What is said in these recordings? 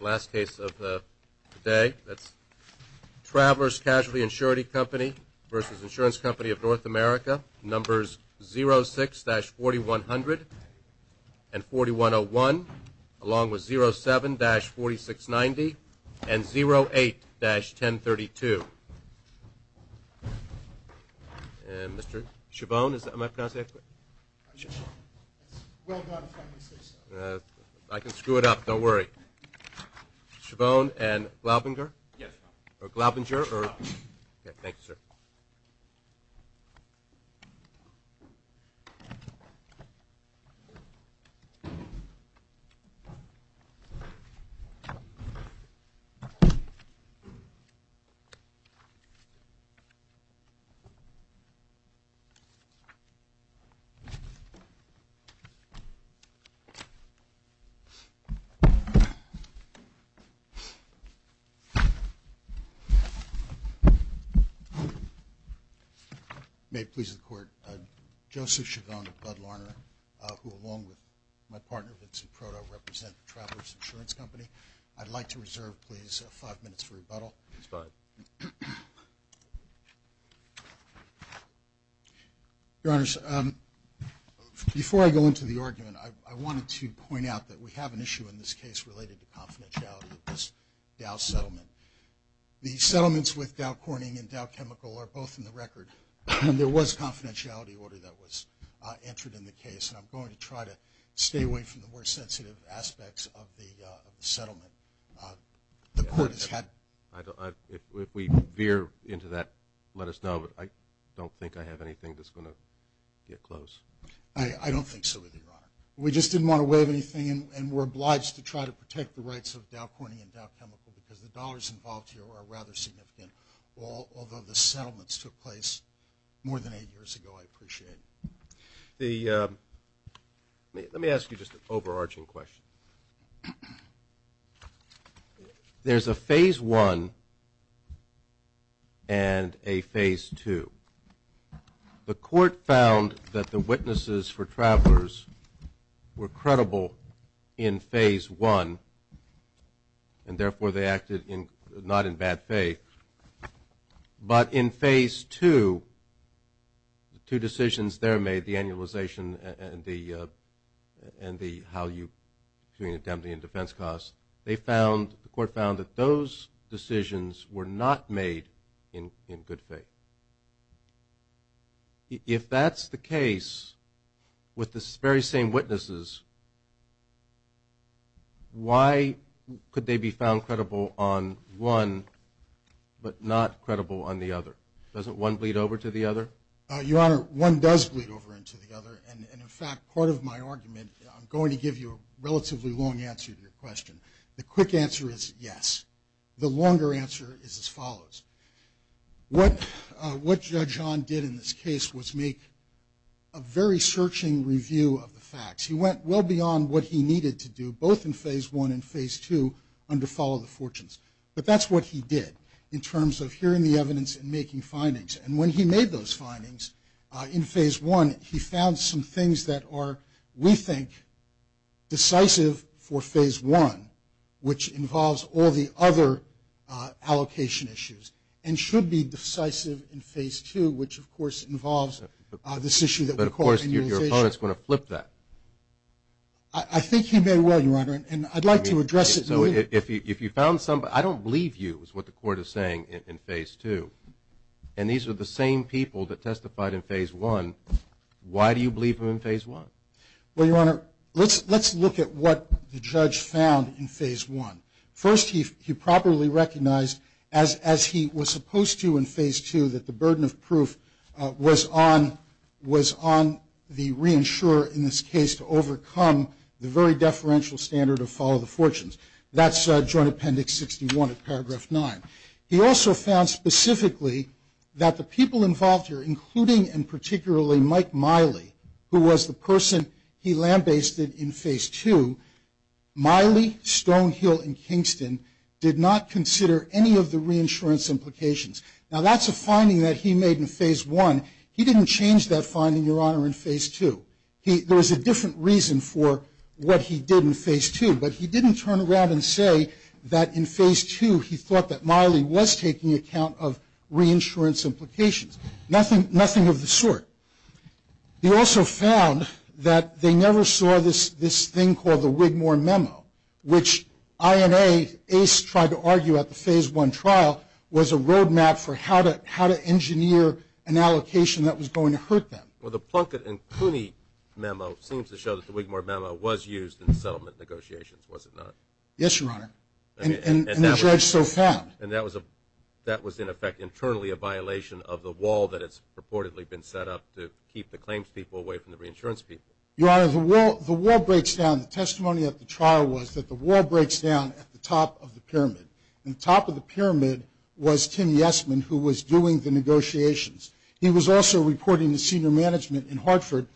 Last case of the day. That's Travelers Casualty Insurance Company v. Insurance Company of North America. Numbers 06-4100 and 4101 along with 07-4690 and 08-1032. And Mr. Chabon, am I pronouncing that correctly? Well done if I can say so. I can screw it up. Don't worry. Chabon and Glaubinger? Yes, sir. Or Glaubinger? Yes, sir. Thank you, sir. May it please the Court, Joseph Chabon and Bud Larner who along with my partner Vincent Proto represent Travelers Insurance Company. I'd like to reserve, please, five minutes for rebuttal. That's fine. Your Honors, before I go into the argument, I wanted to point out that we have an issue in this case related to confidentiality of this Dow settlement. The settlements with Dow Corning and Dow Chemical are both in the record. And there was a confidentiality order that was entered in the case. And I'm going to try to stay away from the more sensitive aspects of the settlement. If we veer into that, let us know. I don't think I have anything that's going to get close. I don't think so either, Your Honor. We just didn't want to waive anything and we're obliged to try to protect the rights of Dow Corning and Dow Chemical because the dollars involved here are rather significant. Although the settlements took place more than eight years ago, I appreciate it. Let me ask you just an overarching question. There's a Phase I and a Phase II. The court found that the witnesses for Travelers were credible in Phase I, and therefore they acted not in bad faith. But in Phase II, the two decisions there made, the annualization and the how you, between indemnity and defense costs, they found, the court found that those decisions were not made in good faith. If that's the case, with the very same witnesses, why could they be found credible on one but not credible on the other? Doesn't one bleed over to the other? Your Honor, one does bleed over into the other, and in fact, part of my argument, I'm going to give you a relatively long answer to your question. The quick answer is yes. The longer answer is as follows. What Judge John did in this case was make a very searching review of the facts. He went well beyond what he needed to do, both in Phase I and Phase II, under Follow the Fortunes. But that's what he did in terms of hearing the evidence and making findings. And when he made those findings in Phase I, he found some things that are, we think, decisive for Phase I, which involves all the other allocation issues, and should be decisive in Phase II, which, of course, involves this issue that we call annualization. But, of course, your opponent's going to flip that. I think he may well, Your Honor, and I'd like to address it later. So if you found some, I don't believe you is what the court is saying in Phase II, and these are the same people that testified in Phase I. Why do you believe them in Phase I? Well, Your Honor, let's look at what the judge found in Phase I. First, he properly recognized, as he was supposed to in Phase II, that the burden of proof was on the reinsurer in this case to overcome the very deferential standard of Follow the Fortunes. That's Joint Appendix 61 of Paragraph 9. He also found specifically that the people involved here, including and particularly Mike Miley, who was the person he lambasted in Phase II, Miley, Stonehill, and Kingston did not consider any of the reinsurance implications. Now, that's a finding that he made in Phase I. He didn't change that finding, Your Honor, in Phase II. There was a different reason for what he did in Phase II, but he didn't turn around and say that in Phase II he thought that Miley was taking account of reinsurance implications, nothing of the sort. He also found that they never saw this thing called the Wigmore Memo, which INA, ACE tried to argue at the Phase I trial, was a roadmap for how to engineer an allocation that was going to hurt them. Well, the Plunkett and Cooney Memo seems to show that the Wigmore Memo was used in settlement negotiations, was it not? Yes, Your Honor, and the judge so found. And that was in effect internally a violation of the wall that has purportedly been set up to keep the claims people away from the reinsurance people. Your Honor, the wall breaks down. The testimony at the trial was that the wall breaks down at the top of the pyramid, and the top of the pyramid was Tim Yesman, who was doing the negotiations. He was also reporting to senior management in Hartford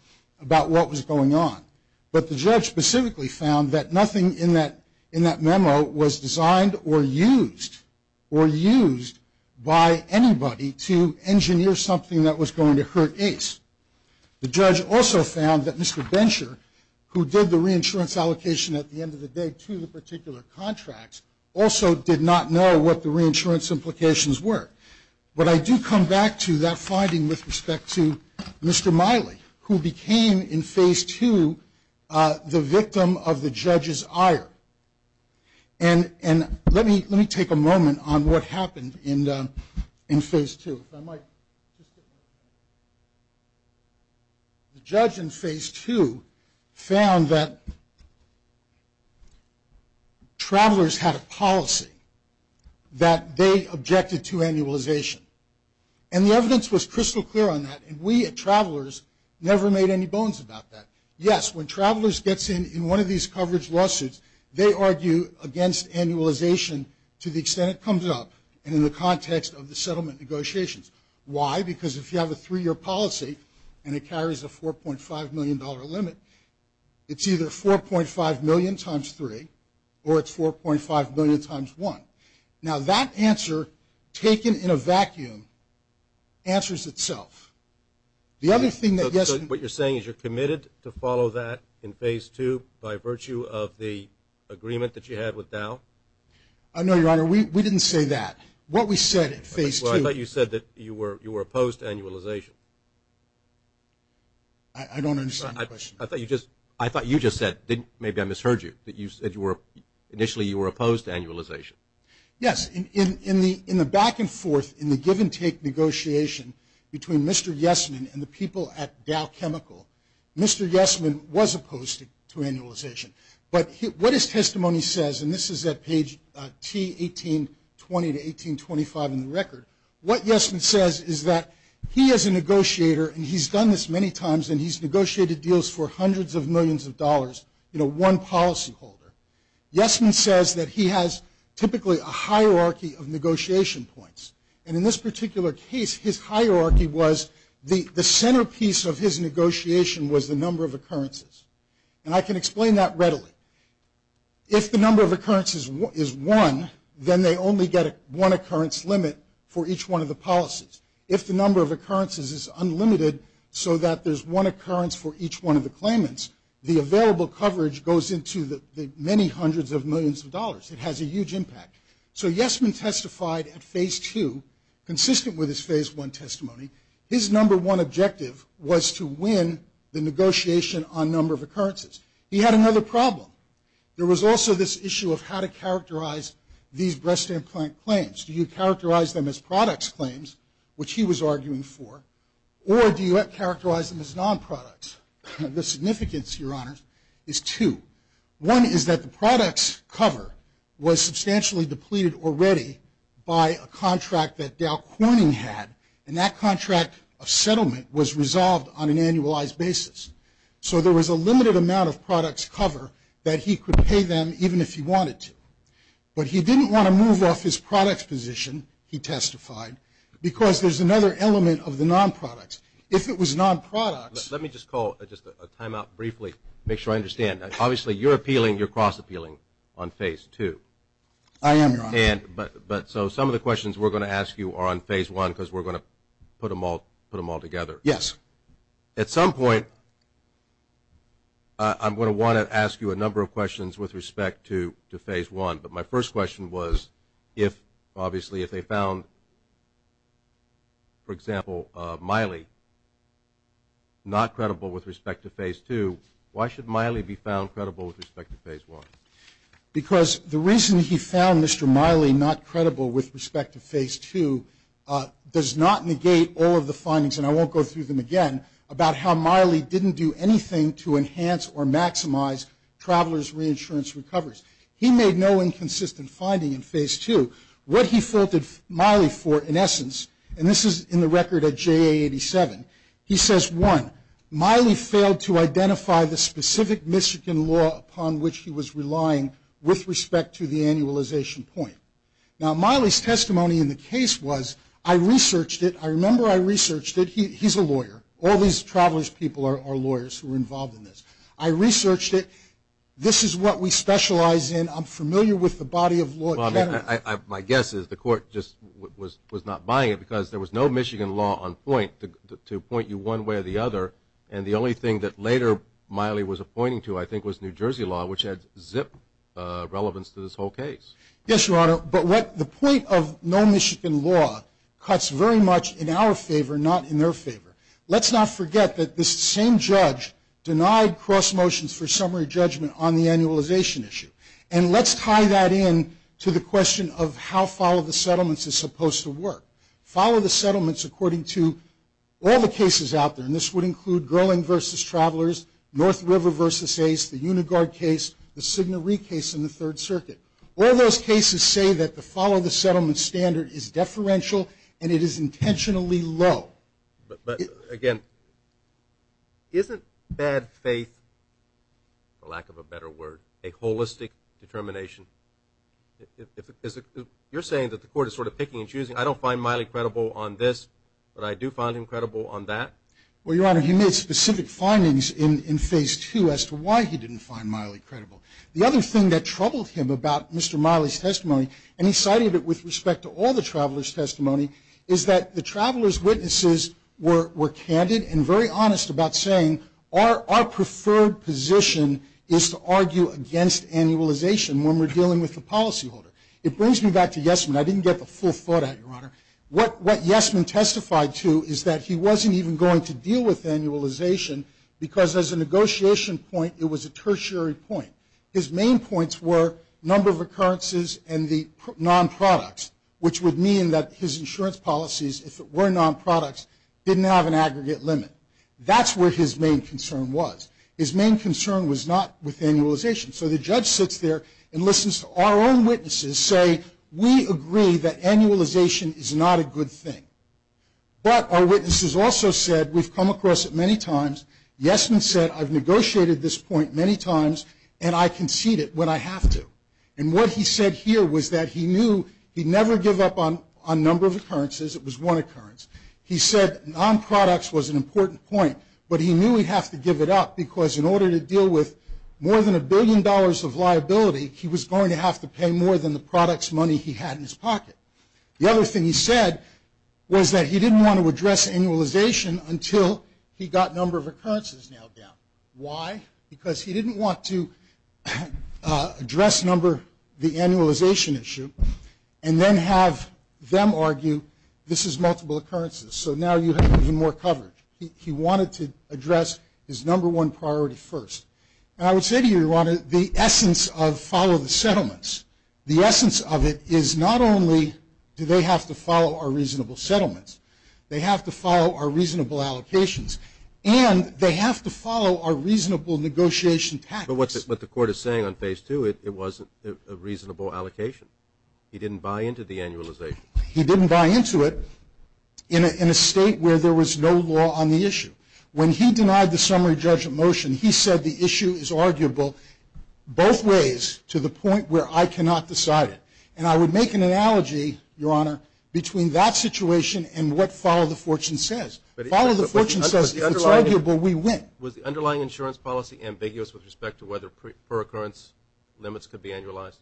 about what was going on. But the judge specifically found that nothing in that memo was designed or used or used by anybody to engineer something that was going to hurt ACE. The judge also found that Mr. Bencher, who did the reinsurance allocation at the end of the day to the particular contracts, also did not know what the reinsurance implications were. But I do come back to that finding with respect to Mr. Miley, who became in Phase 2 the victim of the judge's ire. And let me take a moment on what happened in Phase 2. The judge in Phase 2 found that travelers had a policy that they objected to annualization. And the evidence was crystal clear on that, and we at Travelers never made any bones about that. Yes, when Travelers gets in in one of these coverage lawsuits, they argue against annualization to the extent it comes up and in the context of the settlement negotiations. Why? Because if you have a three-year policy and it carries a $4.5 million limit, it's either $4.5 million times three, or it's $4.5 million times one. Now that answer, taken in a vacuum, answers itself. The other thing that gets me. So what you're saying is you're committed to follow that in Phase 2 by virtue of the agreement that you had with Dow? No, Your Honor, we didn't say that. What we said in Phase 2. Well, I thought you said that you were opposed to annualization. I don't understand the question. I thought you just said, maybe I misheard you, that initially you were opposed to annualization. Yes. In the back-and-forth, in the give-and-take negotiation between Mr. Yesman and the people at Dow Chemical, Mr. Yesman was opposed to annualization. But what his testimony says, and this is at page T1820 to 1825 in the record, what Yesman says is that he is a negotiator, and he's done this many times, and he's negotiated deals for hundreds of millions of dollars in one policyholder. Yesman says that he has typically a hierarchy of negotiation points. And in this particular case, his hierarchy was the centerpiece of his negotiation was the number of occurrences. And I can explain that readily. If the number of occurrences is one, then they only get one occurrence limit for each one of the policies. If the number of occurrences is unlimited so that there's one occurrence for each one of the claimants, the available coverage goes into the many hundreds of millions of dollars. It has a huge impact. So Yesman testified at phase two, consistent with his phase one testimony. His number one objective was to win the negotiation on number of occurrences. He had another problem. There was also this issue of how to characterize these breast implant claims. Do you characterize them as products claims, which he was arguing for, or do you characterize them as non-products? The significance, Your Honors, is two. One is that the products cover was substantially depleted already by a contract that Dow Corning had, and that contract of settlement was resolved on an annualized basis. So there was a limited amount of products cover that he could pay them even if he wanted to. But he didn't want to move off his products position, he testified, because there's another element of the non-products. If it was non-products. Let me just call just a timeout briefly, make sure I understand. Obviously, you're appealing, you're cross-appealing on phase two. I am, Your Honor. But so some of the questions we're going to ask you are on phase one because we're going to put them all together. Yes. At some point, I'm going to want to ask you a number of questions with respect to phase one. But my first question was if, obviously, if they found, for example, Miley not credible with respect to phase two, why should Miley be found credible with respect to phase one? Because the reason he found Mr. Miley not credible with respect to phase two does not negate all of the findings, and I won't go through them again, about how Miley didn't do anything to enhance or maximize travelers' reinsurance recoveries. He made no inconsistent finding in phase two. What he faulted Miley for, in essence, and this is in the record at JA 87, he says, one, Miley failed to identify the specific Michigan law upon which he was relying with respect to the annualization point. Now, Miley's testimony in the case was, I researched it. I remember I researched it. He's a lawyer. All these travelers' people are lawyers who are involved in this. I researched it. This is what we specialize in. I'm familiar with the body of law at Kennedy. My guess is the court just was not buying it because there was no Michigan law on point to point you one way or the other, and the only thing that later Miley was appointing to, I think, was New Jersey law, which had zip relevance to this whole case. Yes, Your Honor. But the point of no Michigan law cuts very much in our favor, not in their favor. Let's not forget that this same judge denied cross motions for summary judgment on the annualization issue, and let's tie that in to the question of how follow the settlements is supposed to work. Follow the settlements according to all the cases out there, and this would include Gerling v. Travelers, North River v. Ace, the Uniguard case, the Signoree case in the Third Circuit. All those cases say that the follow the settlement standard is deferential and it is intentionally low. But, again, isn't bad faith, for lack of a better word, a holistic determination? You're saying that the court is sort of picking and choosing. I don't find Miley credible on this, but I do find him credible on that. Well, Your Honor, he made specific findings in phase two as to why he didn't find Miley credible. The other thing that troubled him about Mr. Miley's testimony, and he cited it with respect to all the Travelers' testimony, is that the Travelers' witnesses were candid and very honest about saying our preferred position is to argue against annualization when we're dealing with the policyholder. It brings me back to Yesman. I didn't get the full thought out, Your Honor. What Yesman testified to is that he wasn't even going to deal with annualization because, as a negotiation point, it was a tertiary point. His main points were number of occurrences and the non-products, which would mean that his insurance policies, if it were non-products, didn't have an aggregate limit. That's where his main concern was. His main concern was not with annualization. So the judge sits there and listens to our own witnesses say, we agree that annualization is not a good thing. But our witnesses also said, we've come across it many times. Yesman said, I've negotiated this point many times, and I concede it when I have to. And what he said here was that he knew he'd never give up on number of occurrences. It was one occurrence. He said non-products was an important point, but he knew he'd have to give it up because in order to deal with more than a billion dollars of liability, he was going to have to pay more than the products money he had in his pocket. The other thing he said was that he didn't want to address annualization until he got number of occurrences nailed down. Why? Because he didn't want to address number, the annualization issue, and then have them argue this is multiple occurrences. So now you have even more coverage. He wanted to address his number one priority first. And I would say to you, Ron, the essence of follow the settlements, the essence of it is not only do they have to follow our reasonable settlements, they have to follow our reasonable allocations, and they have to follow our reasonable negotiation tactics. But what the court is saying on phase two, it wasn't a reasonable allocation. He didn't buy into the annualization. He didn't buy into it in a state where there was no law on the issue. When he denied the summary judgment motion, he said the issue is arguable both ways to the point where I cannot decide it. And I would make an analogy, Your Honor, between that situation and what follow the fortune says. Follow the fortune says if it's arguable, we win. Was the underlying insurance policy ambiguous with respect to whether pre-occurrence limits could be annualized?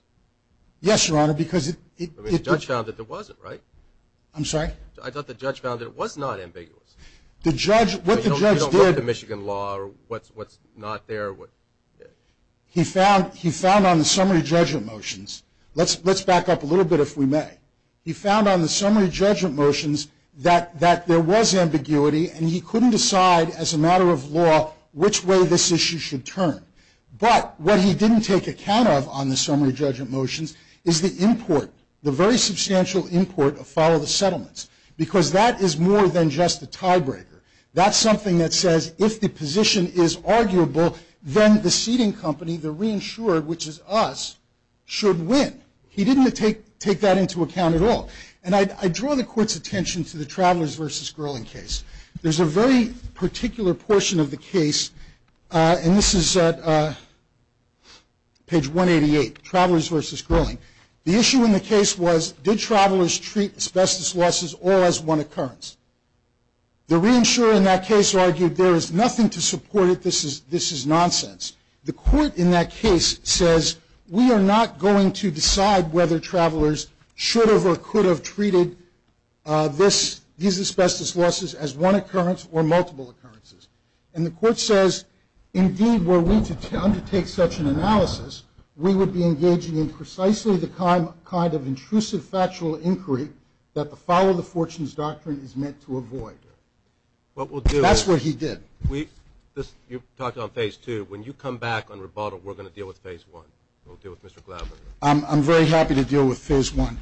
Yes, Your Honor, because it – The judge found that it wasn't, right? I'm sorry? I thought the judge found that it was not ambiguous. The judge – what the judge did – He found on the summary judgment motions – let's back up a little bit if we may. He found on the summary judgment motions that there was ambiguity, and he couldn't decide as a matter of law which way this issue should turn. But what he didn't take account of on the summary judgment motions is the import, the very substantial import of follow the settlements, because that is more than just a tiebreaker. That's something that says if the position is arguable, then the seating company, the reinsured, which is us, should win. He didn't take that into account at all. And I draw the court's attention to the Travelers v. Girling case. There's a very particular portion of the case, and this is at page 188, Travelers v. Girling. The issue in the case was did travelers treat asbestos losses all as one occurrence? The reinsurer in that case argued there is nothing to support it. This is nonsense. The court in that case says we are not going to decide whether travelers should have or could have treated these asbestos losses as one occurrence or multiple occurrences. And the court says, indeed, were we to undertake such an analysis, we would be engaging in precisely the kind of intrusive factual inquiry that the follow the fortunes doctrine is meant to avoid. That's what he did. You talked about phase two. When you come back on rebuttal, we're going to deal with phase one. We'll deal with Mr. Glavine. I'm very happy to deal with phase one.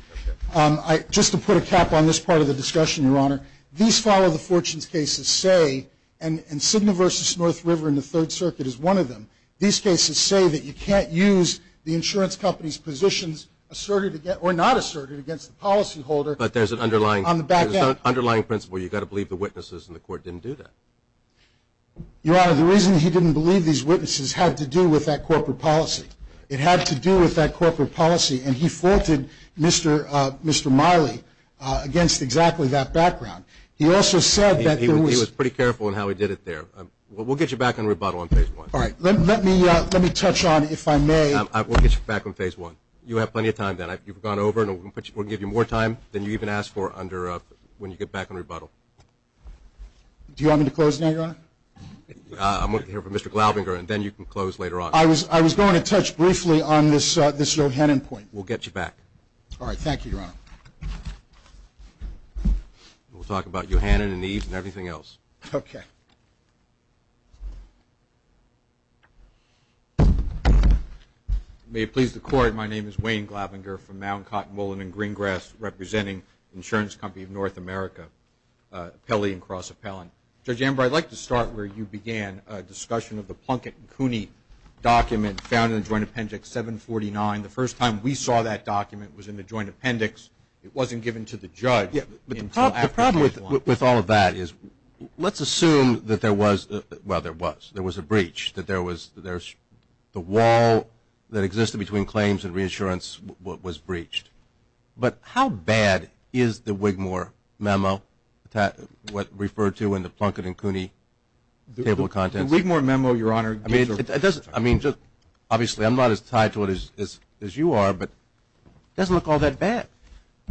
Just to put a cap on this part of the discussion, Your Honor, these follow the fortunes cases say, and Cigna v. North River in the Third Circuit is one of them, these cases say that you can't use the insurance company's positions asserted or not asserted against the policyholder on the back end. But there's an underlying principle. You've got to believe the witnesses, and the court didn't do that. Your Honor, the reason he didn't believe these witnesses had to do with that corporate policy. It had to do with that corporate policy, and he faulted Mr. Miley against exactly that background. He also said that there was – He was pretty careful in how he did it there. We'll get you back on rebuttal on phase one. All right. Let me touch on, if I may – We'll get you back on phase one. You have plenty of time, then. You've gone over, and we'll give you more time than you even asked for when you get back on rebuttal. Do you want me to close now, Your Honor? I'm looking here for Mr. Glaubinger, and then you can close later on. I was going to touch briefly on this Yohannan point. We'll get you back. All right. Thank you, Your Honor. We'll talk about Yohannan and Eve and everything else. Okay. Thank you. May it please the Court, my name is Wayne Glaubinger from Mound, Cotton, Mullen, and Greengrass, representing the insurance company of North America, Pelley & Cross Appellant. Judge Amber, I'd like to start where you began, a discussion of the Plunkett & Cooney document found in the Joint Appendix 749. The first time we saw that document was in the Joint Appendix. It wasn't given to the judge until after phase one. With all of that, let's assume that there was a breach, that the wall that existed between claims and reinsurance was breached. But how bad is the Wigmore Memo, what's referred to in the Plunkett & Cooney table of contents? The Wigmore Memo, Your Honor. Obviously, I'm not as tied to it as you are, but it doesn't look all that bad.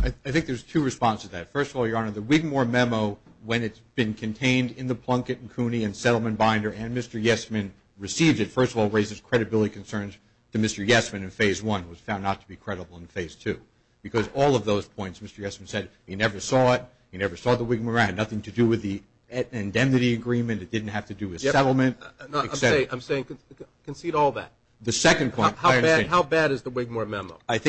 I think there's two responses to that. First of all, Your Honor, the Wigmore Memo, when it's been contained in the Plunkett & Cooney and Settlement Binder, and Mr. Yesman received it, first of all, raises credibility concerns to Mr. Yesman in phase one. It was found not to be credible in phase two. Because all of those points, Mr. Yesman said he never saw it, he never saw the Wigmore, it had nothing to do with the indemnity agreement, it didn't have to do with settlement. I'm saying concede all that. The second point. How bad is the Wigmore Memo? I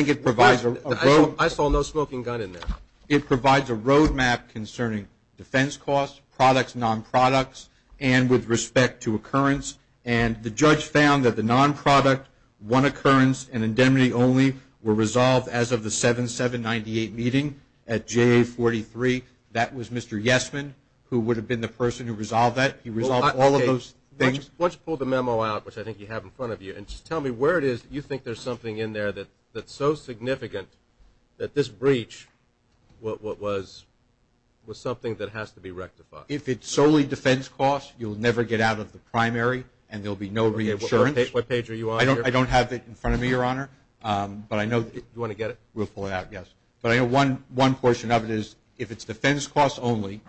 saw no smoking gun in there. It provides a roadmap concerning defense costs, products, non-products, and with respect to occurrence. And the judge found that the non-product, one occurrence, and indemnity only were resolved as of the 7-7-98 meeting at JA-43. That was Mr. Yesman, who would have been the person who resolved that. He resolved all of those things. Why don't you pull the memo out, which I think you have in front of you, and just tell me where it is that you think there's something in there that's so significant that this breach was something that has to be rectified? If it's solely defense costs, you'll never get out of the primary, and there will be no reinsurance. What page are you on here? I don't have it in front of me, Your Honor. Do you want to get it? We'll pull it out, yes. But I know one portion of it is if it's defense costs only,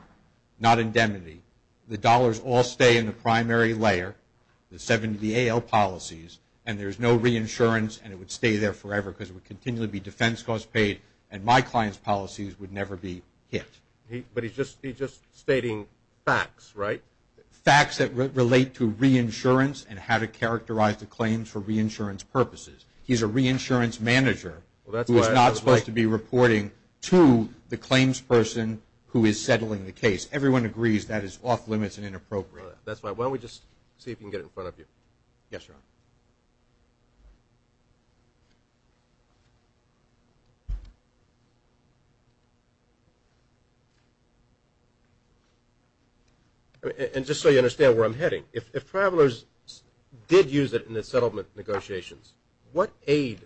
not indemnity, the dollars all stay in the primary layer, the 70AL policies, and there's no reinsurance, and it would stay there forever because it would continually be defense costs paid, and my client's policies would never be hit. But he's just stating facts, right? Facts that relate to reinsurance and how to characterize the claims for reinsurance purposes. He's a reinsurance manager who is not supposed to be reporting to the claims person who is settling the case. Everyone agrees that is off-limits and inappropriate. Why don't we just see if we can get it in front of you. Yes, Your Honor. And just so you understand where I'm heading, if travelers did use it in the settlement negotiations, what aid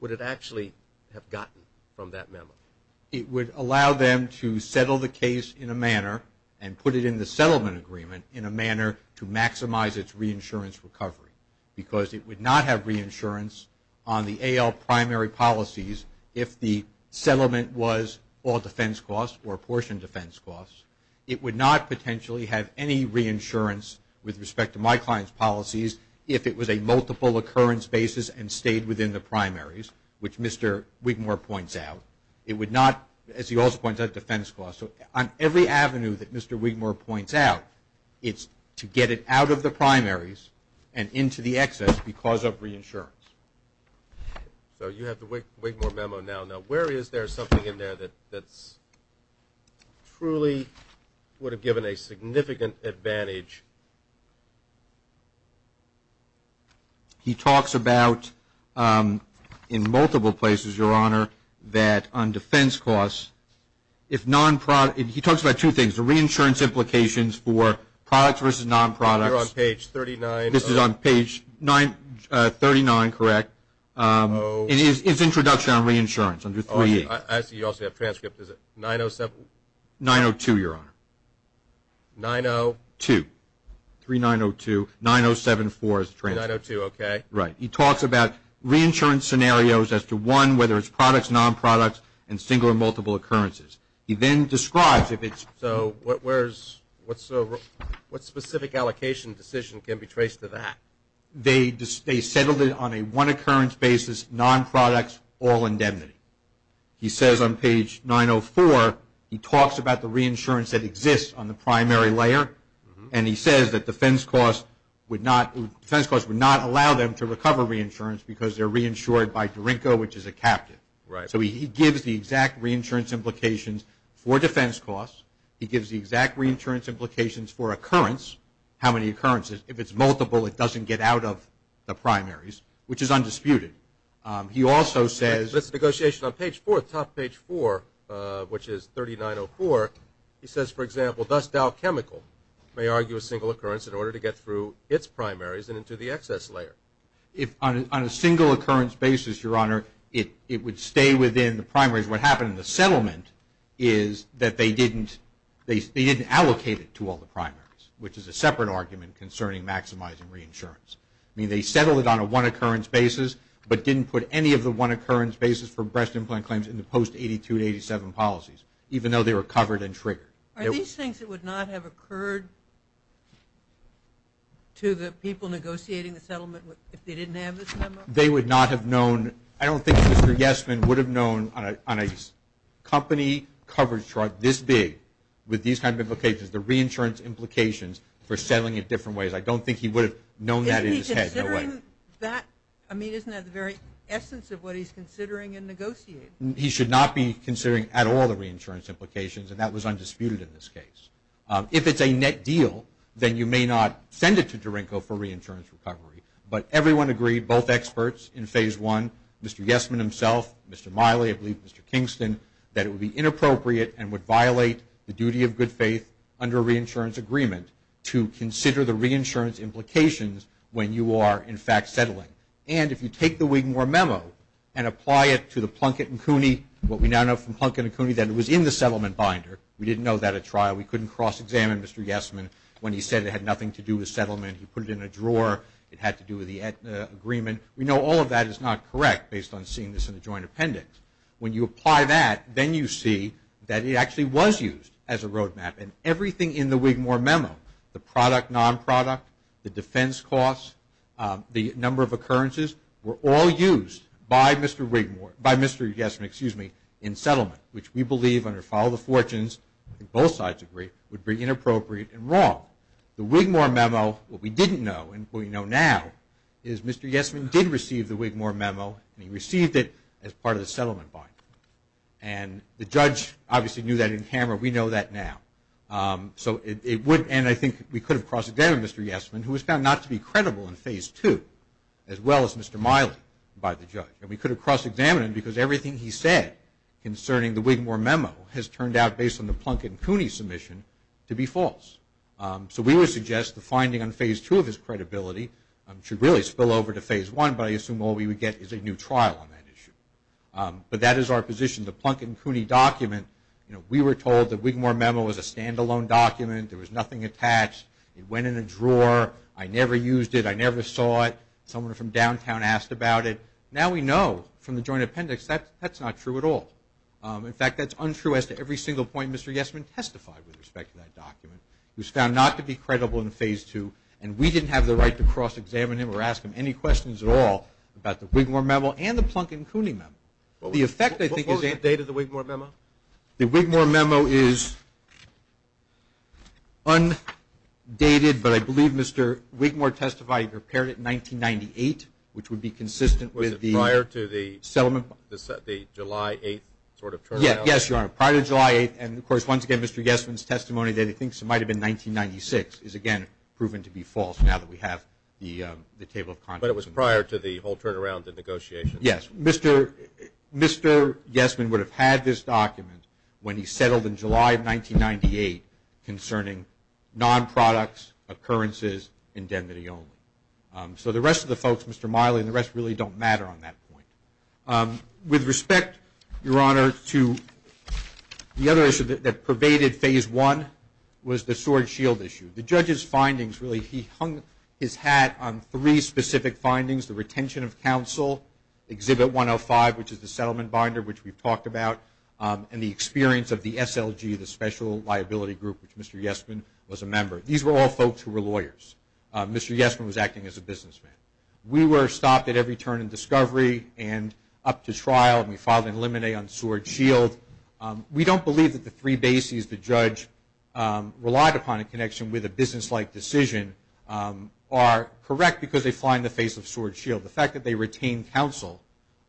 would it actually have gotten from that memo? It would allow them to settle the case in a manner and put it in the settlement agreement in a manner to maximize its reinsurance recovery because it would not have reinsurance on the AL primary policies if the settlement was all defense costs or a portion of defense costs. It would not potentially have any reinsurance with respect to my client's policies if it was a multiple occurrence basis and stayed within the primaries, which Mr. Wigmore points out. It would not, as he also points out, defense costs. So on every avenue that Mr. Wigmore points out, it's to get it out of the primaries and into the excess because of reinsurance. So you have the Wigmore memo now. Now, where is there something in there that truly would have given a significant advantage? He talks about in multiple places, Your Honor, that on defense costs, he talks about two things, the reinsurance implications for products versus non-products. You're on page 39. This is on page 39, correct. It's introduction on reinsurance under 3A. I see you also have transcripts. Is it 907? 902, Your Honor. 902. 3902, 9074 is the transcript. 902, okay. Right. He talks about reinsurance scenarios as to, one, whether it's products, non-products, and single or multiple occurrences. He then describes if it's – So what specific allocation decision can be traced to that? They settled it on a one-occurrence basis, non-products, all indemnity. He says on page 904, he talks about the reinsurance that exists on the primary layer, and he says that defense costs would not allow them to recover reinsurance because they're reinsured by Derinko, which is a captive. Right. So he gives the exact reinsurance implications for defense costs. He gives the exact reinsurance implications for occurrence, how many occurrences. If it's multiple, it doesn't get out of the primaries, which is undisputed. He also says – That's the negotiation on page 4, top page 4, which is 3904. He says, for example, thus Dow Chemical may argue a single occurrence in order to get through its primaries and into the excess layer. On a single occurrence basis, Your Honor, it would stay within the primaries. What happened in the settlement is that they didn't allocate it to all the primaries, which is a separate argument concerning maximizing reinsurance. I mean, they settled it on a one-occurrence basis, but didn't put any of the one-occurrence basis for breast implant claims in the post-'82 to-'87 policies, even though they were covered and triggered. Are these things that would not have occurred to the people negotiating the settlement if they didn't have this memo? They would not have known – I don't think Mr. Yesman would have known on a company coverage chart this big with these kind of implications, the reinsurance implications for settling it different ways. I don't think he would have known that in his head. Isn't he considering that – I mean, isn't that the very essence of what he's considering in negotiating? He should not be considering at all the reinsurance implications, and that was undisputed in this case. If it's a net deal, then you may not send it to Durinko for reinsurance recovery. But everyone agreed, both experts in Phase I, Mr. Yesman himself, Mr. Miley, I believe Mr. Kingston, that it would be inappropriate and would violate the duty of good faith under a reinsurance agreement to consider the reinsurance implications when you are, in fact, settling. And if you take the Wigmore memo and apply it to the Plunkett and Cooney, what we now know from Plunkett and Cooney, that it was in the settlement binder. We didn't know that at trial. We couldn't cross-examine Mr. Yesman when he said it had nothing to do with settlement. He put it in a drawer. It had to do with the agreement. We know all of that is not correct based on seeing this in a joint appendix. When you apply that, then you see that it actually was used as a roadmap, and everything in the Wigmore memo, the product, non-product, the defense costs, the number of occurrences were all used by Mr. Yesman in settlement, which we believe under file of the fortunes, both sides agree, would be inappropriate and wrong. The Wigmore memo, what we didn't know and what we know now, is Mr. Yesman did receive the Wigmore memo, and he received it as part of the settlement binder. And the judge obviously knew that in camera. We know that now. And I think we could have cross-examined Mr. Yesman, who was found not to be credible in Phase 2, as well as Mr. Miley by the judge. And we could have cross-examined him because everything he said concerning the Wigmore memo has turned out, based on the Plunkett and Cooney submission, to be false. So we would suggest the finding on Phase 2 of his credibility should really spill over to Phase 1, but I assume all we would get is a new trial on that issue. But that is our position. The Plunkett and Cooney document, we were told the Wigmore memo was a stand-alone document. There was nothing attached. It went in a drawer. I never used it. I never saw it. Someone from downtown asked about it. Now we know from the joint appendix that that's not true at all. In fact, that's untrue as to every single point Mr. Yesman testified with respect to that document. He was found not to be credible in Phase 2, and we didn't have the right to cross-examine him or ask him any questions at all about the Wigmore memo and the Plunkett and Cooney memo. What was the date of the Wigmore memo? The Wigmore memo is undated, but I believe Mr. Wigmore testified he prepared it in 1998, which would be consistent with the settlement. Was it prior to the July 8th sort of turnaround? Yes, Your Honor, prior to July 8th. And, of course, once again, Mr. Yesman's testimony that he thinks it might have been 1996 is, again, proven to be false now that we have the table of contents. But it was prior to the whole turnaround, the negotiations? Yes. Mr. Yesman would have had this document when he settled in July of 1998 concerning non-products, occurrences, indemnity only. So the rest of the folks, Mr. Miley and the rest, really don't matter on that point. With respect, Your Honor, to the other issue that pervaded Phase 1 was the sword-shield issue. The judge's findings, really, he hung his hat on three specific findings, the retention of counsel, Exhibit 105, which is the settlement binder, which we've talked about, and the experience of the SLG, the Special Liability Group, which Mr. Yesman was a member. These were all folks who were lawyers. Mr. Yesman was acting as a businessman. We were stopped at every turn in discovery and up to trial, and we filed an limine on sword-shield. We don't believe that the three bases the judge relied upon in connection with a business-like decision are correct because they fly in the face of sword-shield. The fact that they retained counsel,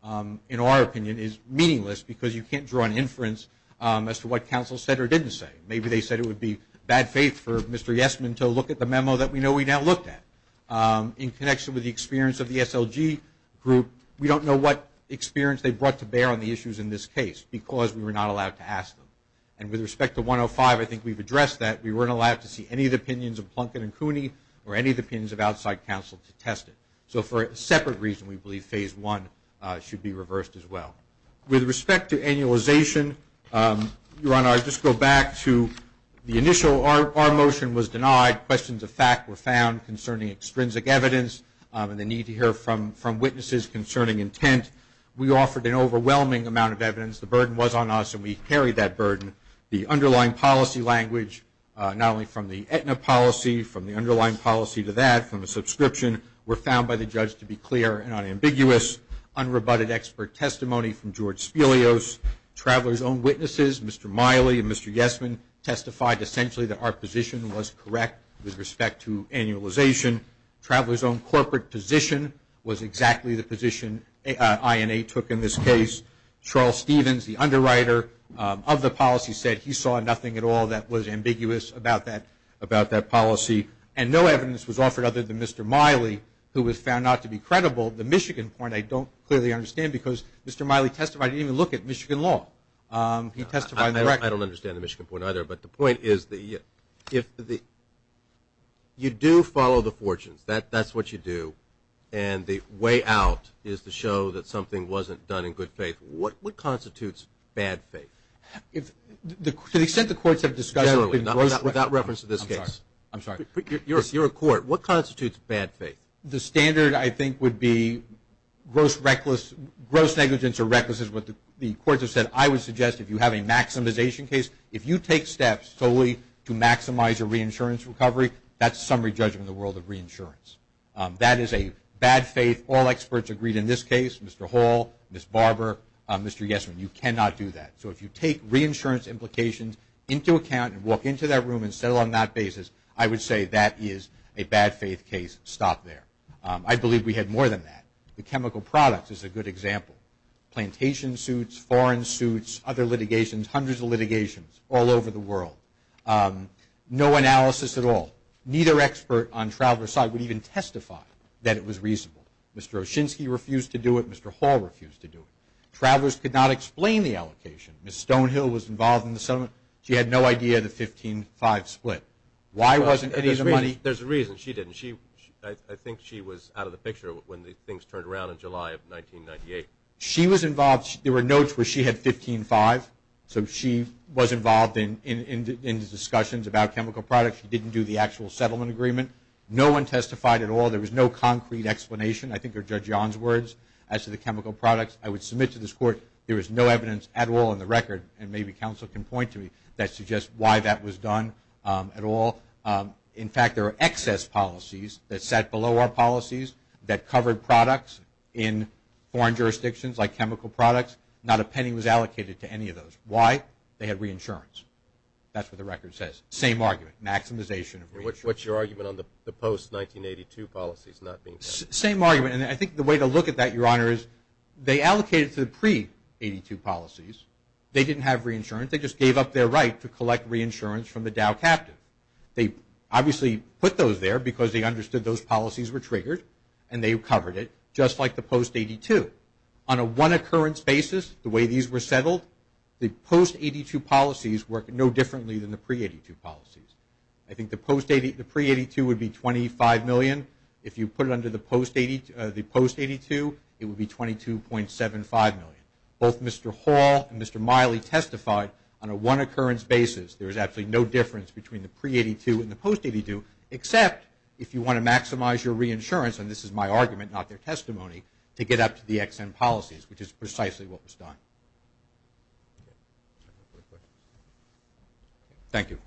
in our opinion, is meaningless because you can't draw an inference as to what counsel said or didn't say. Maybe they said it would be bad faith for Mr. Yesman to look at the memo that we know we now looked at. In connection with the experience of the SLG group, we don't know what experience they brought to bear on the issues in this case because we were not allowed to ask them. And with respect to 105, I think we've addressed that. We weren't allowed to see any of the opinions of Plunkett and Cooney or any of the opinions of outside counsel to test it. So for a separate reason, we believe phase one should be reversed as well. With respect to annualization, Your Honor, I'll just go back to the initial. Our motion was denied. Questions of fact were found concerning extrinsic evidence and the need to hear from witnesses concerning intent. We offered an overwhelming amount of evidence. The burden was on us, and we carried that burden. The underlying policy language, not only from the Aetna policy, from the underlying policy to that, from the subscription, were found by the judge to be clear and unambiguous, unrebutted expert testimony from George Spilios. Travelers' own witnesses, Mr. Miley and Mr. Yesman, testified essentially that our position was correct with respect to annualization. Travelers' own corporate position was exactly the position INA took in this case. Charles Stevens, the underwriter of the policy, said he saw nothing at all that was ambiguous about that policy. And no evidence was offered other than Mr. Miley, who was found not to be credible. The Michigan point I don't clearly understand because Mr. Miley testified, he didn't even look at Michigan law. He testified in the record. I don't understand the Michigan point either. But the point is you do follow the fortunes. That's what you do. And the way out is to show that something wasn't done in good faith. What constitutes bad faith? To the extent the courts have discussed it. Without reference to this case. I'm sorry. You're a court. What constitutes bad faith? The standard, I think, would be gross negligence or recklessness. What the courts have said. I would suggest if you have a maximization case, if you take steps solely to maximize your reinsurance recovery, that's summary judgment in the world of reinsurance. That is a bad faith. All experts agreed in this case, Mr. Hall, Ms. Barber, Mr. Yesman, you cannot do that. So if you take reinsurance implications into account and walk into that room and settle on that basis, I would say that is a bad faith case. Stop there. I believe we had more than that. The chemical products is a good example. Plantation suits, foreign suits, other litigations, hundreds of litigations all over the world. No analysis at all. Neither expert on traveler's side would even testify that it was reasonable. Mr. Oshinsky refused to do it. Mr. Hall refused to do it. Travelers could not explain the allocation. Ms. Stonehill was involved in the settlement. She had no idea the 15-5 split. Why wasn't any of the money? There's a reason she didn't. I think she was out of the picture when things turned around in July of 1998. She was involved. There were notes where she had 15-5, so she was involved in discussions about chemical products. She didn't do the actual settlement agreement. No one testified at all. There was no concrete explanation, I think are Judge Yon's words, as to the chemical products. I would submit to this Court there is no evidence at all in the record, and maybe counsel can point to me, that suggests why that was done at all. In fact, there are excess policies that sat below our policies that covered products in foreign jurisdictions like chemical products. Not a penny was allocated to any of those. Why? They had reinsurance. That's what the record says. Same argument, maximization of reinsurance. And what's your argument on the post-1982 policies not being allocated? Same argument, and I think the way to look at that, Your Honor, is they allocated to the pre-'82 policies. They didn't have reinsurance. They just gave up their right to collect reinsurance from the Dow captive. They obviously put those there because they understood those policies were triggered, and they covered it, just like the post-'82. On a one-occurrence basis, the way these were settled, the post-'82 policies work no differently than the pre-'82 policies. I think the pre-'82 would be $25 million. If you put it under the post-'82, it would be $22.75 million. Both Mr. Hall and Mr. Miley testified on a one-occurrence basis. There is absolutely no difference between the pre-'82 and the post-'82, except if you want to maximize your reinsurance, and this is my argument, not their testimony, to get up to the Ex-Im policies, which is precisely what was done. Thank you.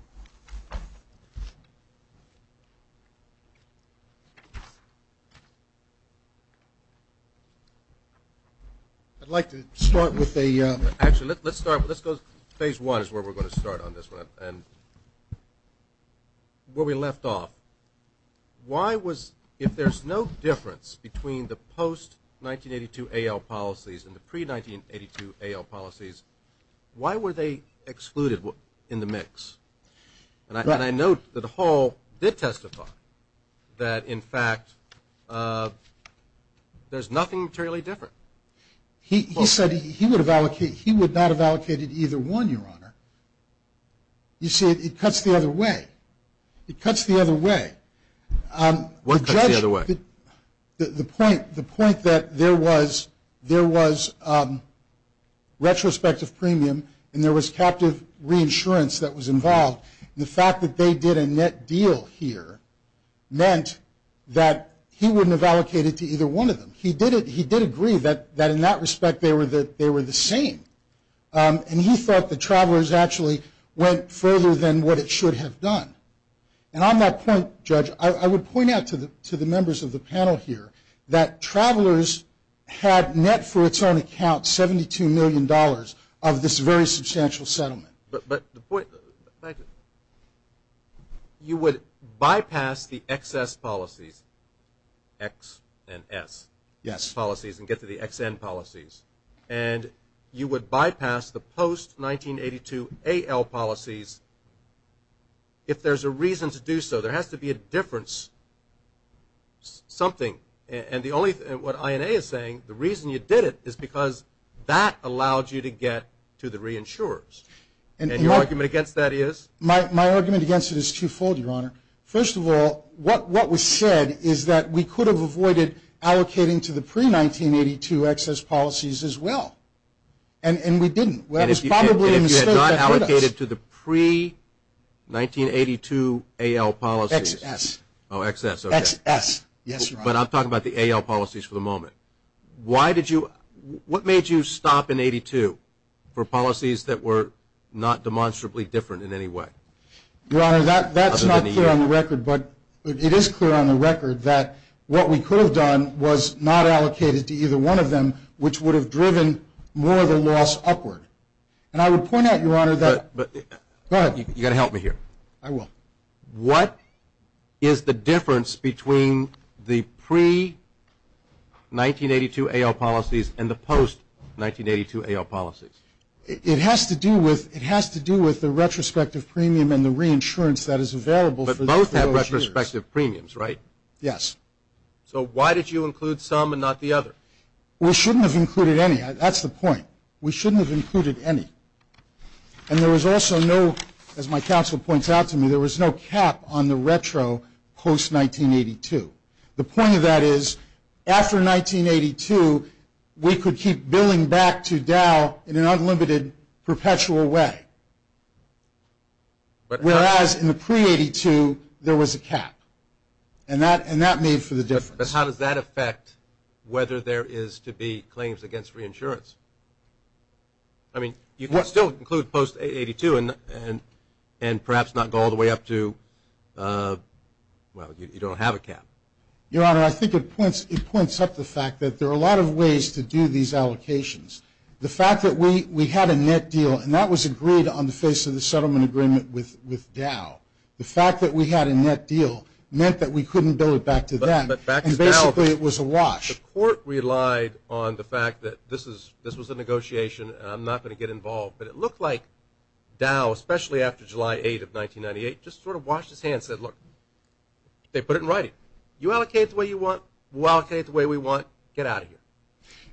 I'd like to start with a – Actually, let's start with – let's go – phase one is where we're going to start on this one, and where we left off. Why was – if there's no difference between the post-1982 AL policies and the pre-1982 AL policies, why were they excluded in the mix? And I note that Hall did testify that, in fact, there's nothing materially different. He said he would have allocated – he would not have allocated either one, Your Honor. You see, it cuts the other way. It cuts the other way. What cuts the other way? The point that there was retrospective premium and there was captive reinsurance that was involved, and the fact that they did a net deal here, meant that he wouldn't have allocated to either one of them. He did agree that, in that respect, they were the same. And he thought the travelers actually went further than what it should have done. And on that point, Judge, I would point out to the members of the panel here that travelers had net for its own account $72 million of this very substantial settlement. But the point – thank you. You would bypass the excess policies, X and S policies, and get to the XN policies, and you would bypass the post-1982 AL policies if there's a reason to do so. There has to be a difference, something. And the only – what INA is saying, the reason you did it, is because that allowed you to get to the reinsurers. And your argument against that is? My argument against it is twofold, Your Honor. First of all, what was said is that we could have avoided allocating to the pre-1982 excess policies as well, and we didn't. And if you had not allocated to the pre-1982 AL policies – XS. Oh, XS, okay. XS, yes, Your Honor. But I'm talking about the AL policies for the moment. Why did you – what made you stop in 82 for policies that were not demonstrably different in any way? Your Honor, that's not clear on the record, but it is clear on the record that what we could have done was not allocated to either one of them, which would have driven more of the loss upward. And I would point out, Your Honor, that – go ahead. You've got to help me here. I will. What is the difference between the pre-1982 AL policies and the post-1982 AL policies? It has to do with the retrospective premium and the reinsurance that is available. But both have retrospective premiums, right? Yes. So why did you include some and not the other? We shouldn't have included any. That's the point. We shouldn't have included any. And there was also no – as my counsel points out to me, there was no cap on the retro post-1982. The point of that is, after 1982, we could keep billing back to Dow in an unlimited, perpetual way. Whereas in the pre-1982, there was a cap. And that made for the difference. But how does that affect whether there is to be claims against reinsurance? I mean, you can still include post-1982 and perhaps not go all the way up to – well, you don't have a cap. Your Honor, I think it points up the fact that there are a lot of ways to do these allocations. The fact that we had a net deal, and that was agreed on the face of the settlement agreement with Dow. The fact that we had a net deal meant that we couldn't bill it back to them. And basically, it was a wash. The court relied on the fact that this was a negotiation and I'm not going to get involved. But it looked like Dow, especially after July 8th of 1998, just sort of washed its hands and said, Look, they put it in writing. You allocate it the way you want. We'll allocate it the way we want. Get out of here.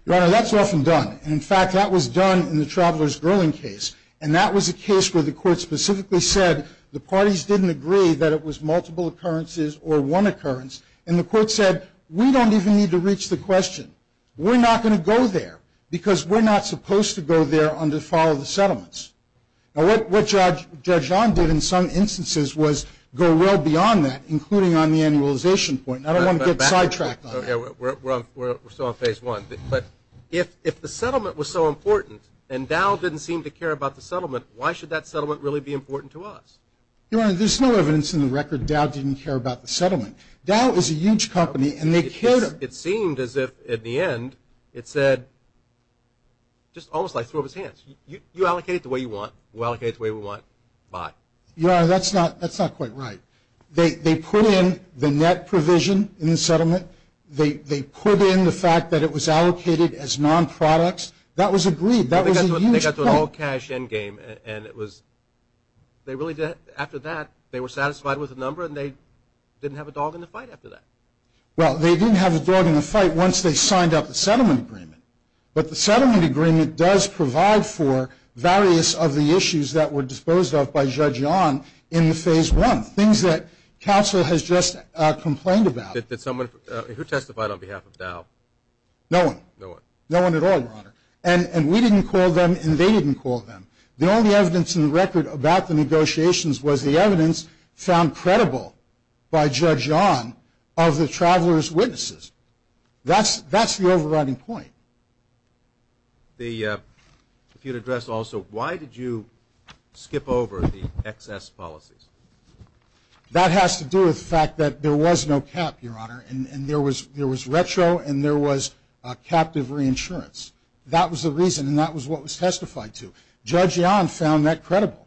Your Honor, that's often done. And, in fact, that was done in the Traveler's Girling case. And that was a case where the court specifically said the parties didn't agree that it was multiple occurrences or one occurrence. And the court said, We don't even need to reach the question. We're not going to go there because we're not supposed to go there under the file of the settlements. Now, what Judge John did in some instances was go well beyond that, including on the annualization point. And I don't want to get sidetracked on that. Yeah, we're still on phase one. But if the settlement was so important and Dow didn't seem to care about the settlement, why should that settlement really be important to us? Your Honor, there's no evidence in the record Dow didn't care about the settlement. Dow is a huge company and they cared. It seemed as if, in the end, it said, just almost like he threw up his hands. You allocate it the way you want. We'll allocate it the way we want. Bye. Your Honor, that's not quite right. They put in the net provision in the settlement. They put in the fact that it was allocated as non-products. That was agreed. That was a huge point. They got to an all-cash endgame. After that, they were satisfied with the number and they didn't have a dog in the fight after that. Well, they didn't have a dog in the fight once they signed up the settlement agreement. But the settlement agreement does provide for various of the issues that were disposed of by Judge John in the phase one, things that counsel has just complained about. Who testified on behalf of Dow? No one. No one. No one at all, Your Honor. And we didn't call them and they didn't call them. The only evidence in the record about the negotiations was the evidence found credible by Judge John of the traveler's witnesses. That's the overriding point. If you'd address also, why did you skip over the excess policies? That has to do with the fact that there was no cap, Your Honor, and there was retro and there was captive reinsurance. That was the reason and that was what was testified to. Judge John found that credible.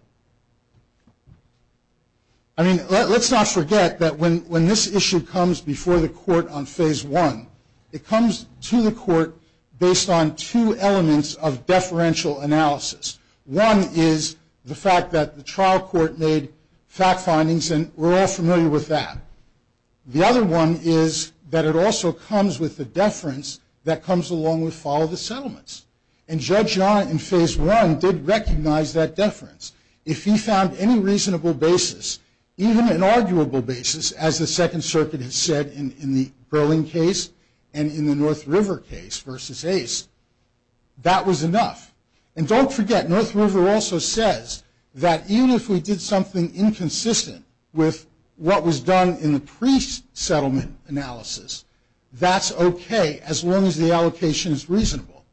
I mean, let's not forget that when this issue comes before the court on phase one, it comes to the court based on two elements of deferential analysis. One is the fact that the trial court made fact findings and we're all familiar with that. The other one is that it also comes with the deference that comes along with follow the settlements. And Judge John in phase one did recognize that deference. If he found any reasonable basis, even an arguable basis, as the Second Circuit has said in the Berling case and in the North River case versus Ace, that was enough. And don't forget, North River also says that even if we did something inconsistent with what was done in the pre-settlement analysis, that's okay as long as the allocation is reasonable.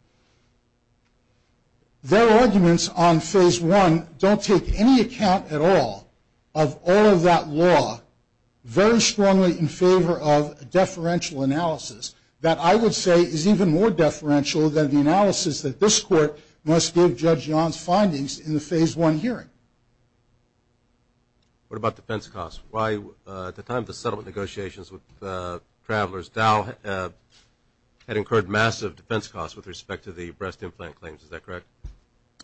Their arguments on phase one don't take any account at all of all of that law very strongly in favor of deferential analysis that I would say is even more deferential than the analysis that this court must give Judge John's findings in the phase one hearing. What about defense costs? At the time of the settlement negotiations with Travelers, Dow had incurred massive defense costs with respect to the breast implant claims. Is that correct?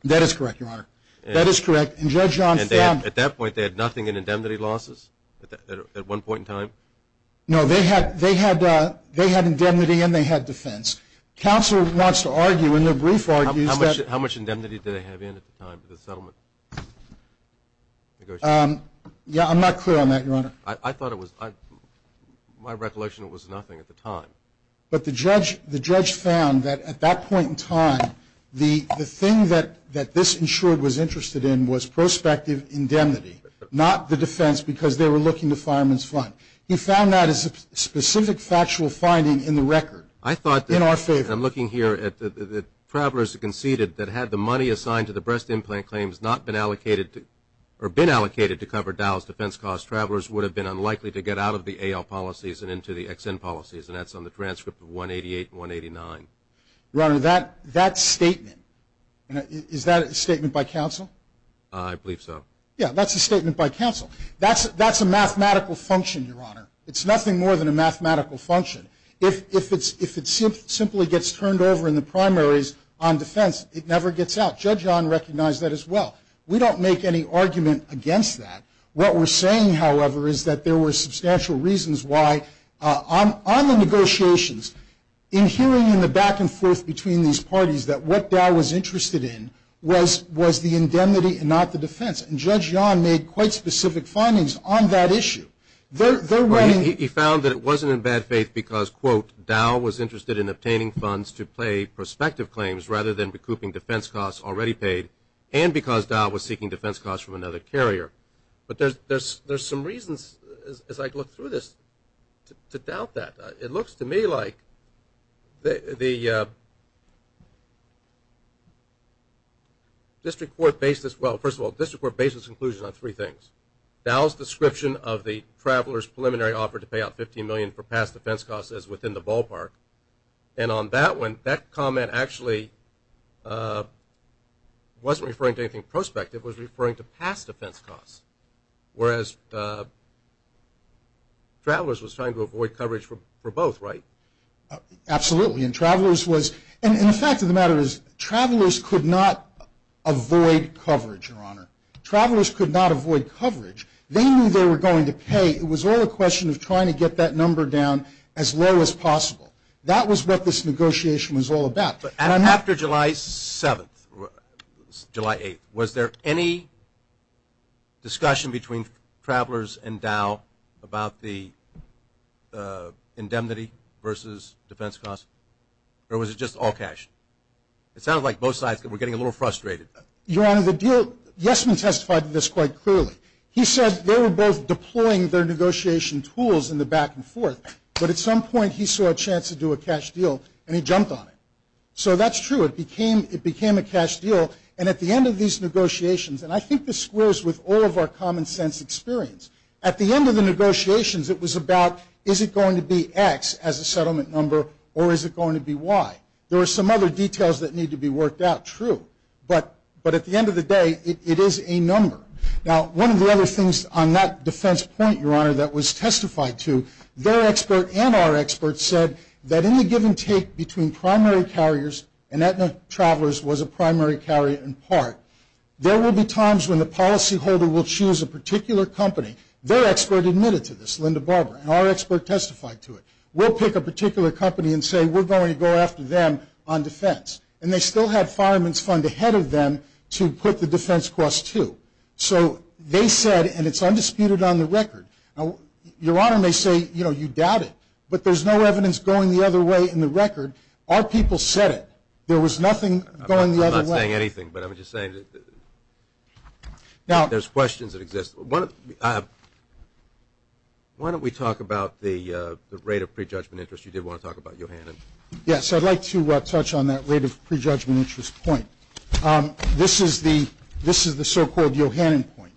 That is correct, Your Honor. That is correct. And Judge John found At that point, they had nothing in indemnity losses at one point in time? No, they had indemnity and they had defense. Counsel wants to argue in their brief argues that How much indemnity did they have in at the time of the settlement negotiations? Yeah, I'm not clear on that, Your Honor. I thought it was, my recollection was nothing at the time. But the judge found that at that point in time, the thing that this insured was interested in was prospective indemnity, not the defense because they were looking to fireman's fund. He found that as a specific factual finding in the record. I thought that In our favor. I'm looking here at the Travelers conceded that had the money assigned to the breast implant claims not been allocated to, or been allocated to cover Dow's defense costs, Travelers would have been unlikely to get out of the AL policies and into the XN policies, and that's on the transcript of 188 and 189. Your Honor, that statement, is that a statement by counsel? I believe so. Yeah, that's a statement by counsel. That's a mathematical function, Your Honor. It's nothing more than a mathematical function. If it simply gets turned over in the primaries on defense, it never gets out. Judge Yon recognized that as well. We don't make any argument against that. What we're saying, however, is that there were substantial reasons why on the negotiations, in hearing in the back and forth between these parties that what Dow was interested in was the indemnity and not the defense, and Judge Yon made quite specific findings on that issue. He found that it wasn't in bad faith because, quote, Dow was interested in obtaining funds to pay prospective claims rather than recouping defense costs already paid, and because Dow was seeking defense costs from another carrier. But there's some reasons, as I look through this, to doubt that. It looks to me like the district court basis, well, first of all, Dow's description of the traveler's preliminary offer to pay out $15 million for past defense costs is within the ballpark, and on that one, that comment actually wasn't referring to anything prospective. It was referring to past defense costs, whereas Travelers was trying to avoid coverage for both, right? Absolutely, and Travelers was – and the fact of the matter is Travelers could not avoid coverage, Your Honor. Travelers could not avoid coverage. They knew they were going to pay. It was all a question of trying to get that number down as low as possible. That was what this negotiation was all about. And after July 7th, July 8th, was there any discussion between Travelers and Dow about the indemnity versus defense costs, or was it just all cash? It sounds like both sides were getting a little frustrated. Your Honor, the deal – Yesman testified to this quite clearly. He said they were both deploying their negotiation tools in the back and forth, but at some point he saw a chance to do a cash deal, and he jumped on it. So that's true. It became a cash deal, and at the end of these negotiations – and I think this squares with all of our common sense experience – at the end of the negotiations, it was about is it going to be X as a settlement number, or is it going to be Y? There are some other details that need to be worked out, true. But at the end of the day, it is a number. Now, one of the other things on that defense point, Your Honor, that was testified to, their expert and our expert said that in the give and take between primary carriers and that Travelers was a primary carrier in part, there will be times when the policyholder will choose a particular company. Their expert admitted to this, Linda Barber, and our expert testified to it. We'll pick a particular company and say we're going to go after them on defense. And they still had fireman's fund ahead of them to put the defense cost to. So they said, and it's undisputed on the record. Your Honor may say, you know, you doubt it, but there's no evidence going the other way in the record. Our people said it. There was nothing going the other way. I'm not saying anything, but I'm just saying that there's questions that exist. Why don't we talk about the rate of prejudgment interest? You did want to talk about it, Your Honor. Yes, I'd like to touch on that rate of prejudgment interest point. This is the so-called Yohannan point.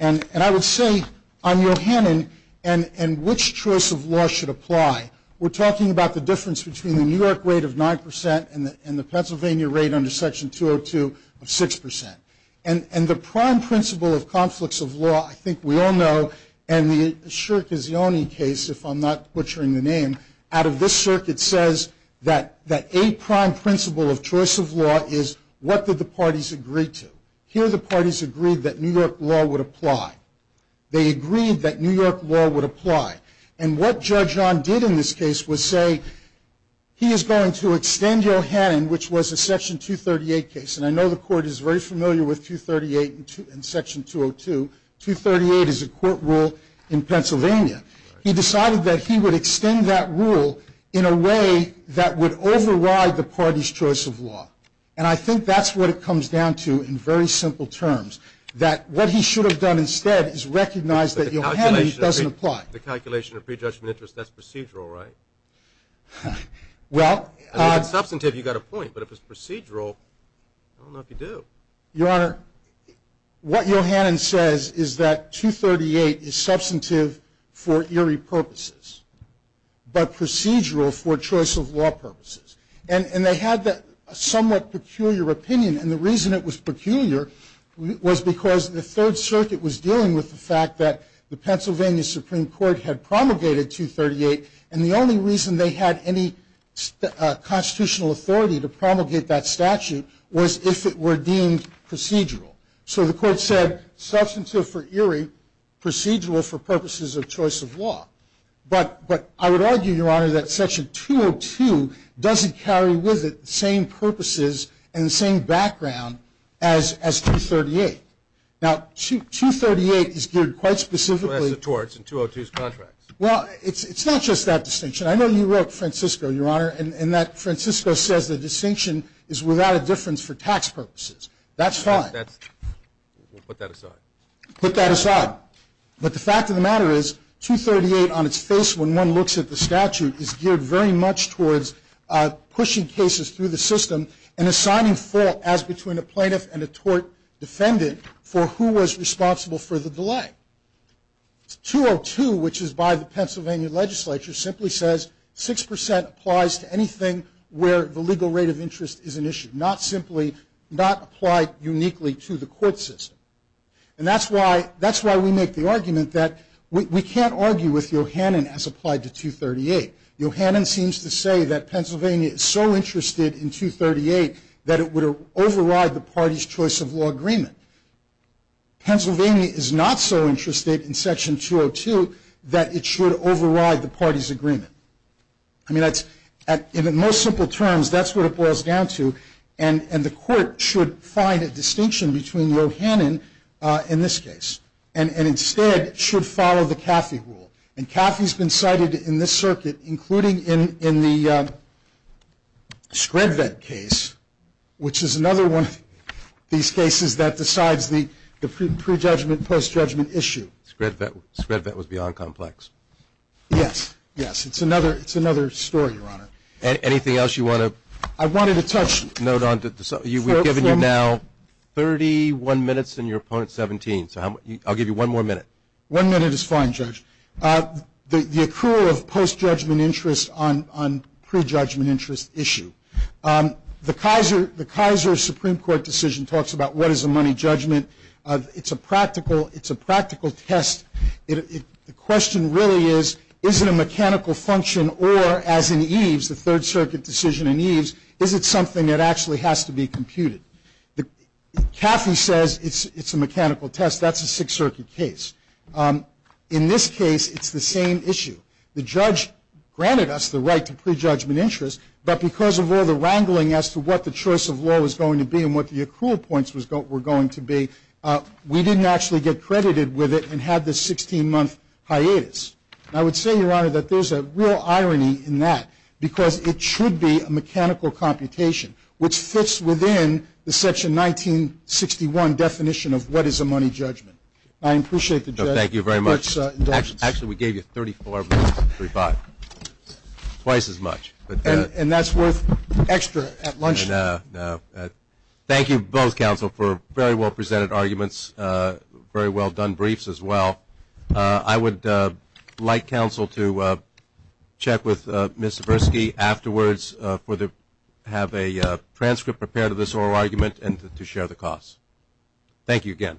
And I would say on Yohannan and which choice of law should apply, we're talking about the difference between the New York rate of 9% and the Pennsylvania rate under Section 202 of 6%. And the prime principle of conflicts of law, I think we all know, and the Shirk is the only case, if I'm not butchering the name, out of this circuit says that a prime principle of choice of law is what did the parties agree to. Here the parties agreed that New York law would apply. They agreed that New York law would apply. And what Judge John did in this case was say he is going to extend Yohannan, which was a Section 238 case. And I know the Court is very familiar with 238 and Section 202. 238 is a court rule in Pennsylvania. He decided that he would extend that rule in a way that would override the party's choice of law. And I think that's what it comes down to in very simple terms, that what he should have done instead is recognize that Yohannan doesn't apply. The calculation of prejudgment interest, that's procedural, right? Well. If it's substantive, you've got a point. But if it's procedural, I don't know if you do. Your Honor, what Yohannan says is that 238 is substantive for eerie purposes, but procedural for choice of law purposes. And they had that somewhat peculiar opinion, and the reason it was peculiar was because the Third Circuit was dealing with the fact that the Pennsylvania Supreme Court had promulgated 238, and the only reason they had any constitutional authority to promulgate that statute was if it were deemed procedural. So the court said substantive for eerie, procedural for purposes of choice of law. But I would argue, Your Honor, that Section 202 doesn't carry with it the same purposes and the same background as 238. Now, 238 is geared quite specifically. That's the torts in 202's contracts. Well, it's not just that distinction. I know you wrote Francisco, Your Honor, and that Francisco says the distinction is without a difference for tax purposes. That's fine. We'll put that aside. Put that aside. But the fact of the matter is 238 on its face when one looks at the statute is geared very much towards pushing cases through the system and assigning fault as between a plaintiff and a tort defendant for who was responsible for the delay. 202, which is by the Pennsylvania legislature, simply says 6% applies to anything where the legal rate of interest is an issue, not simply, not applied uniquely to the court system. And that's why we make the argument that we can't argue with Yohannan as applied to 238. Yohannan seems to say that Pennsylvania is so interested in 238 that it would override the party's choice of law agreement. Pennsylvania is not so interested in Section 202 that it should override the party's agreement. I mean, in the most simple terms, that's what it boils down to, and the court should find a distinction between Yohannan in this case and instead should follow the Caffey rule. And Caffey's been cited in this circuit, including in the Scred Vet case, which is another one of these cases that decides the pre-judgment, post-judgment issue. Scred Vet was beyond complex. Yes, yes. It's another story, Your Honor. Anything else you want to? I wanted to touch. No, Don. We've given you now 31 minutes and your opponent 17, so I'll give you one more minute. One minute is fine, Judge. The accrual of post-judgment interest on pre-judgment interest issue. The Kaiser Supreme Court decision talks about what is a money judgment. It's a practical test. The question really is, is it a mechanical function or, as in Eves, the Third Circuit decision in Eves, is it something that actually has to be computed? Caffey says it's a mechanical test. That's a Sixth Circuit case. In this case, it's the same issue. The judge granted us the right to pre-judgment interest, but because of all the wrangling as to what the choice of law was going to be and what the accrual points were going to be, we didn't actually get credited with it and had this 16-month hiatus. I would say, Your Honor, that there's a real irony in that, because it should be a mechanical computation, which fits within the Section 1961 definition of what is a money judgment. I appreciate the judge's indulgence. Thank you very much. Thank you for this indulgence. Actually, we gave you $34.35, twice as much. And that's worth extra at lunch? No. Thank you, both counsel, for very well-presented arguments, very well-done briefs as well. I would like counsel to check with Ms. Zburski afterwards to have a transcript prepared of this oral argument and to share the costs. Thank you again.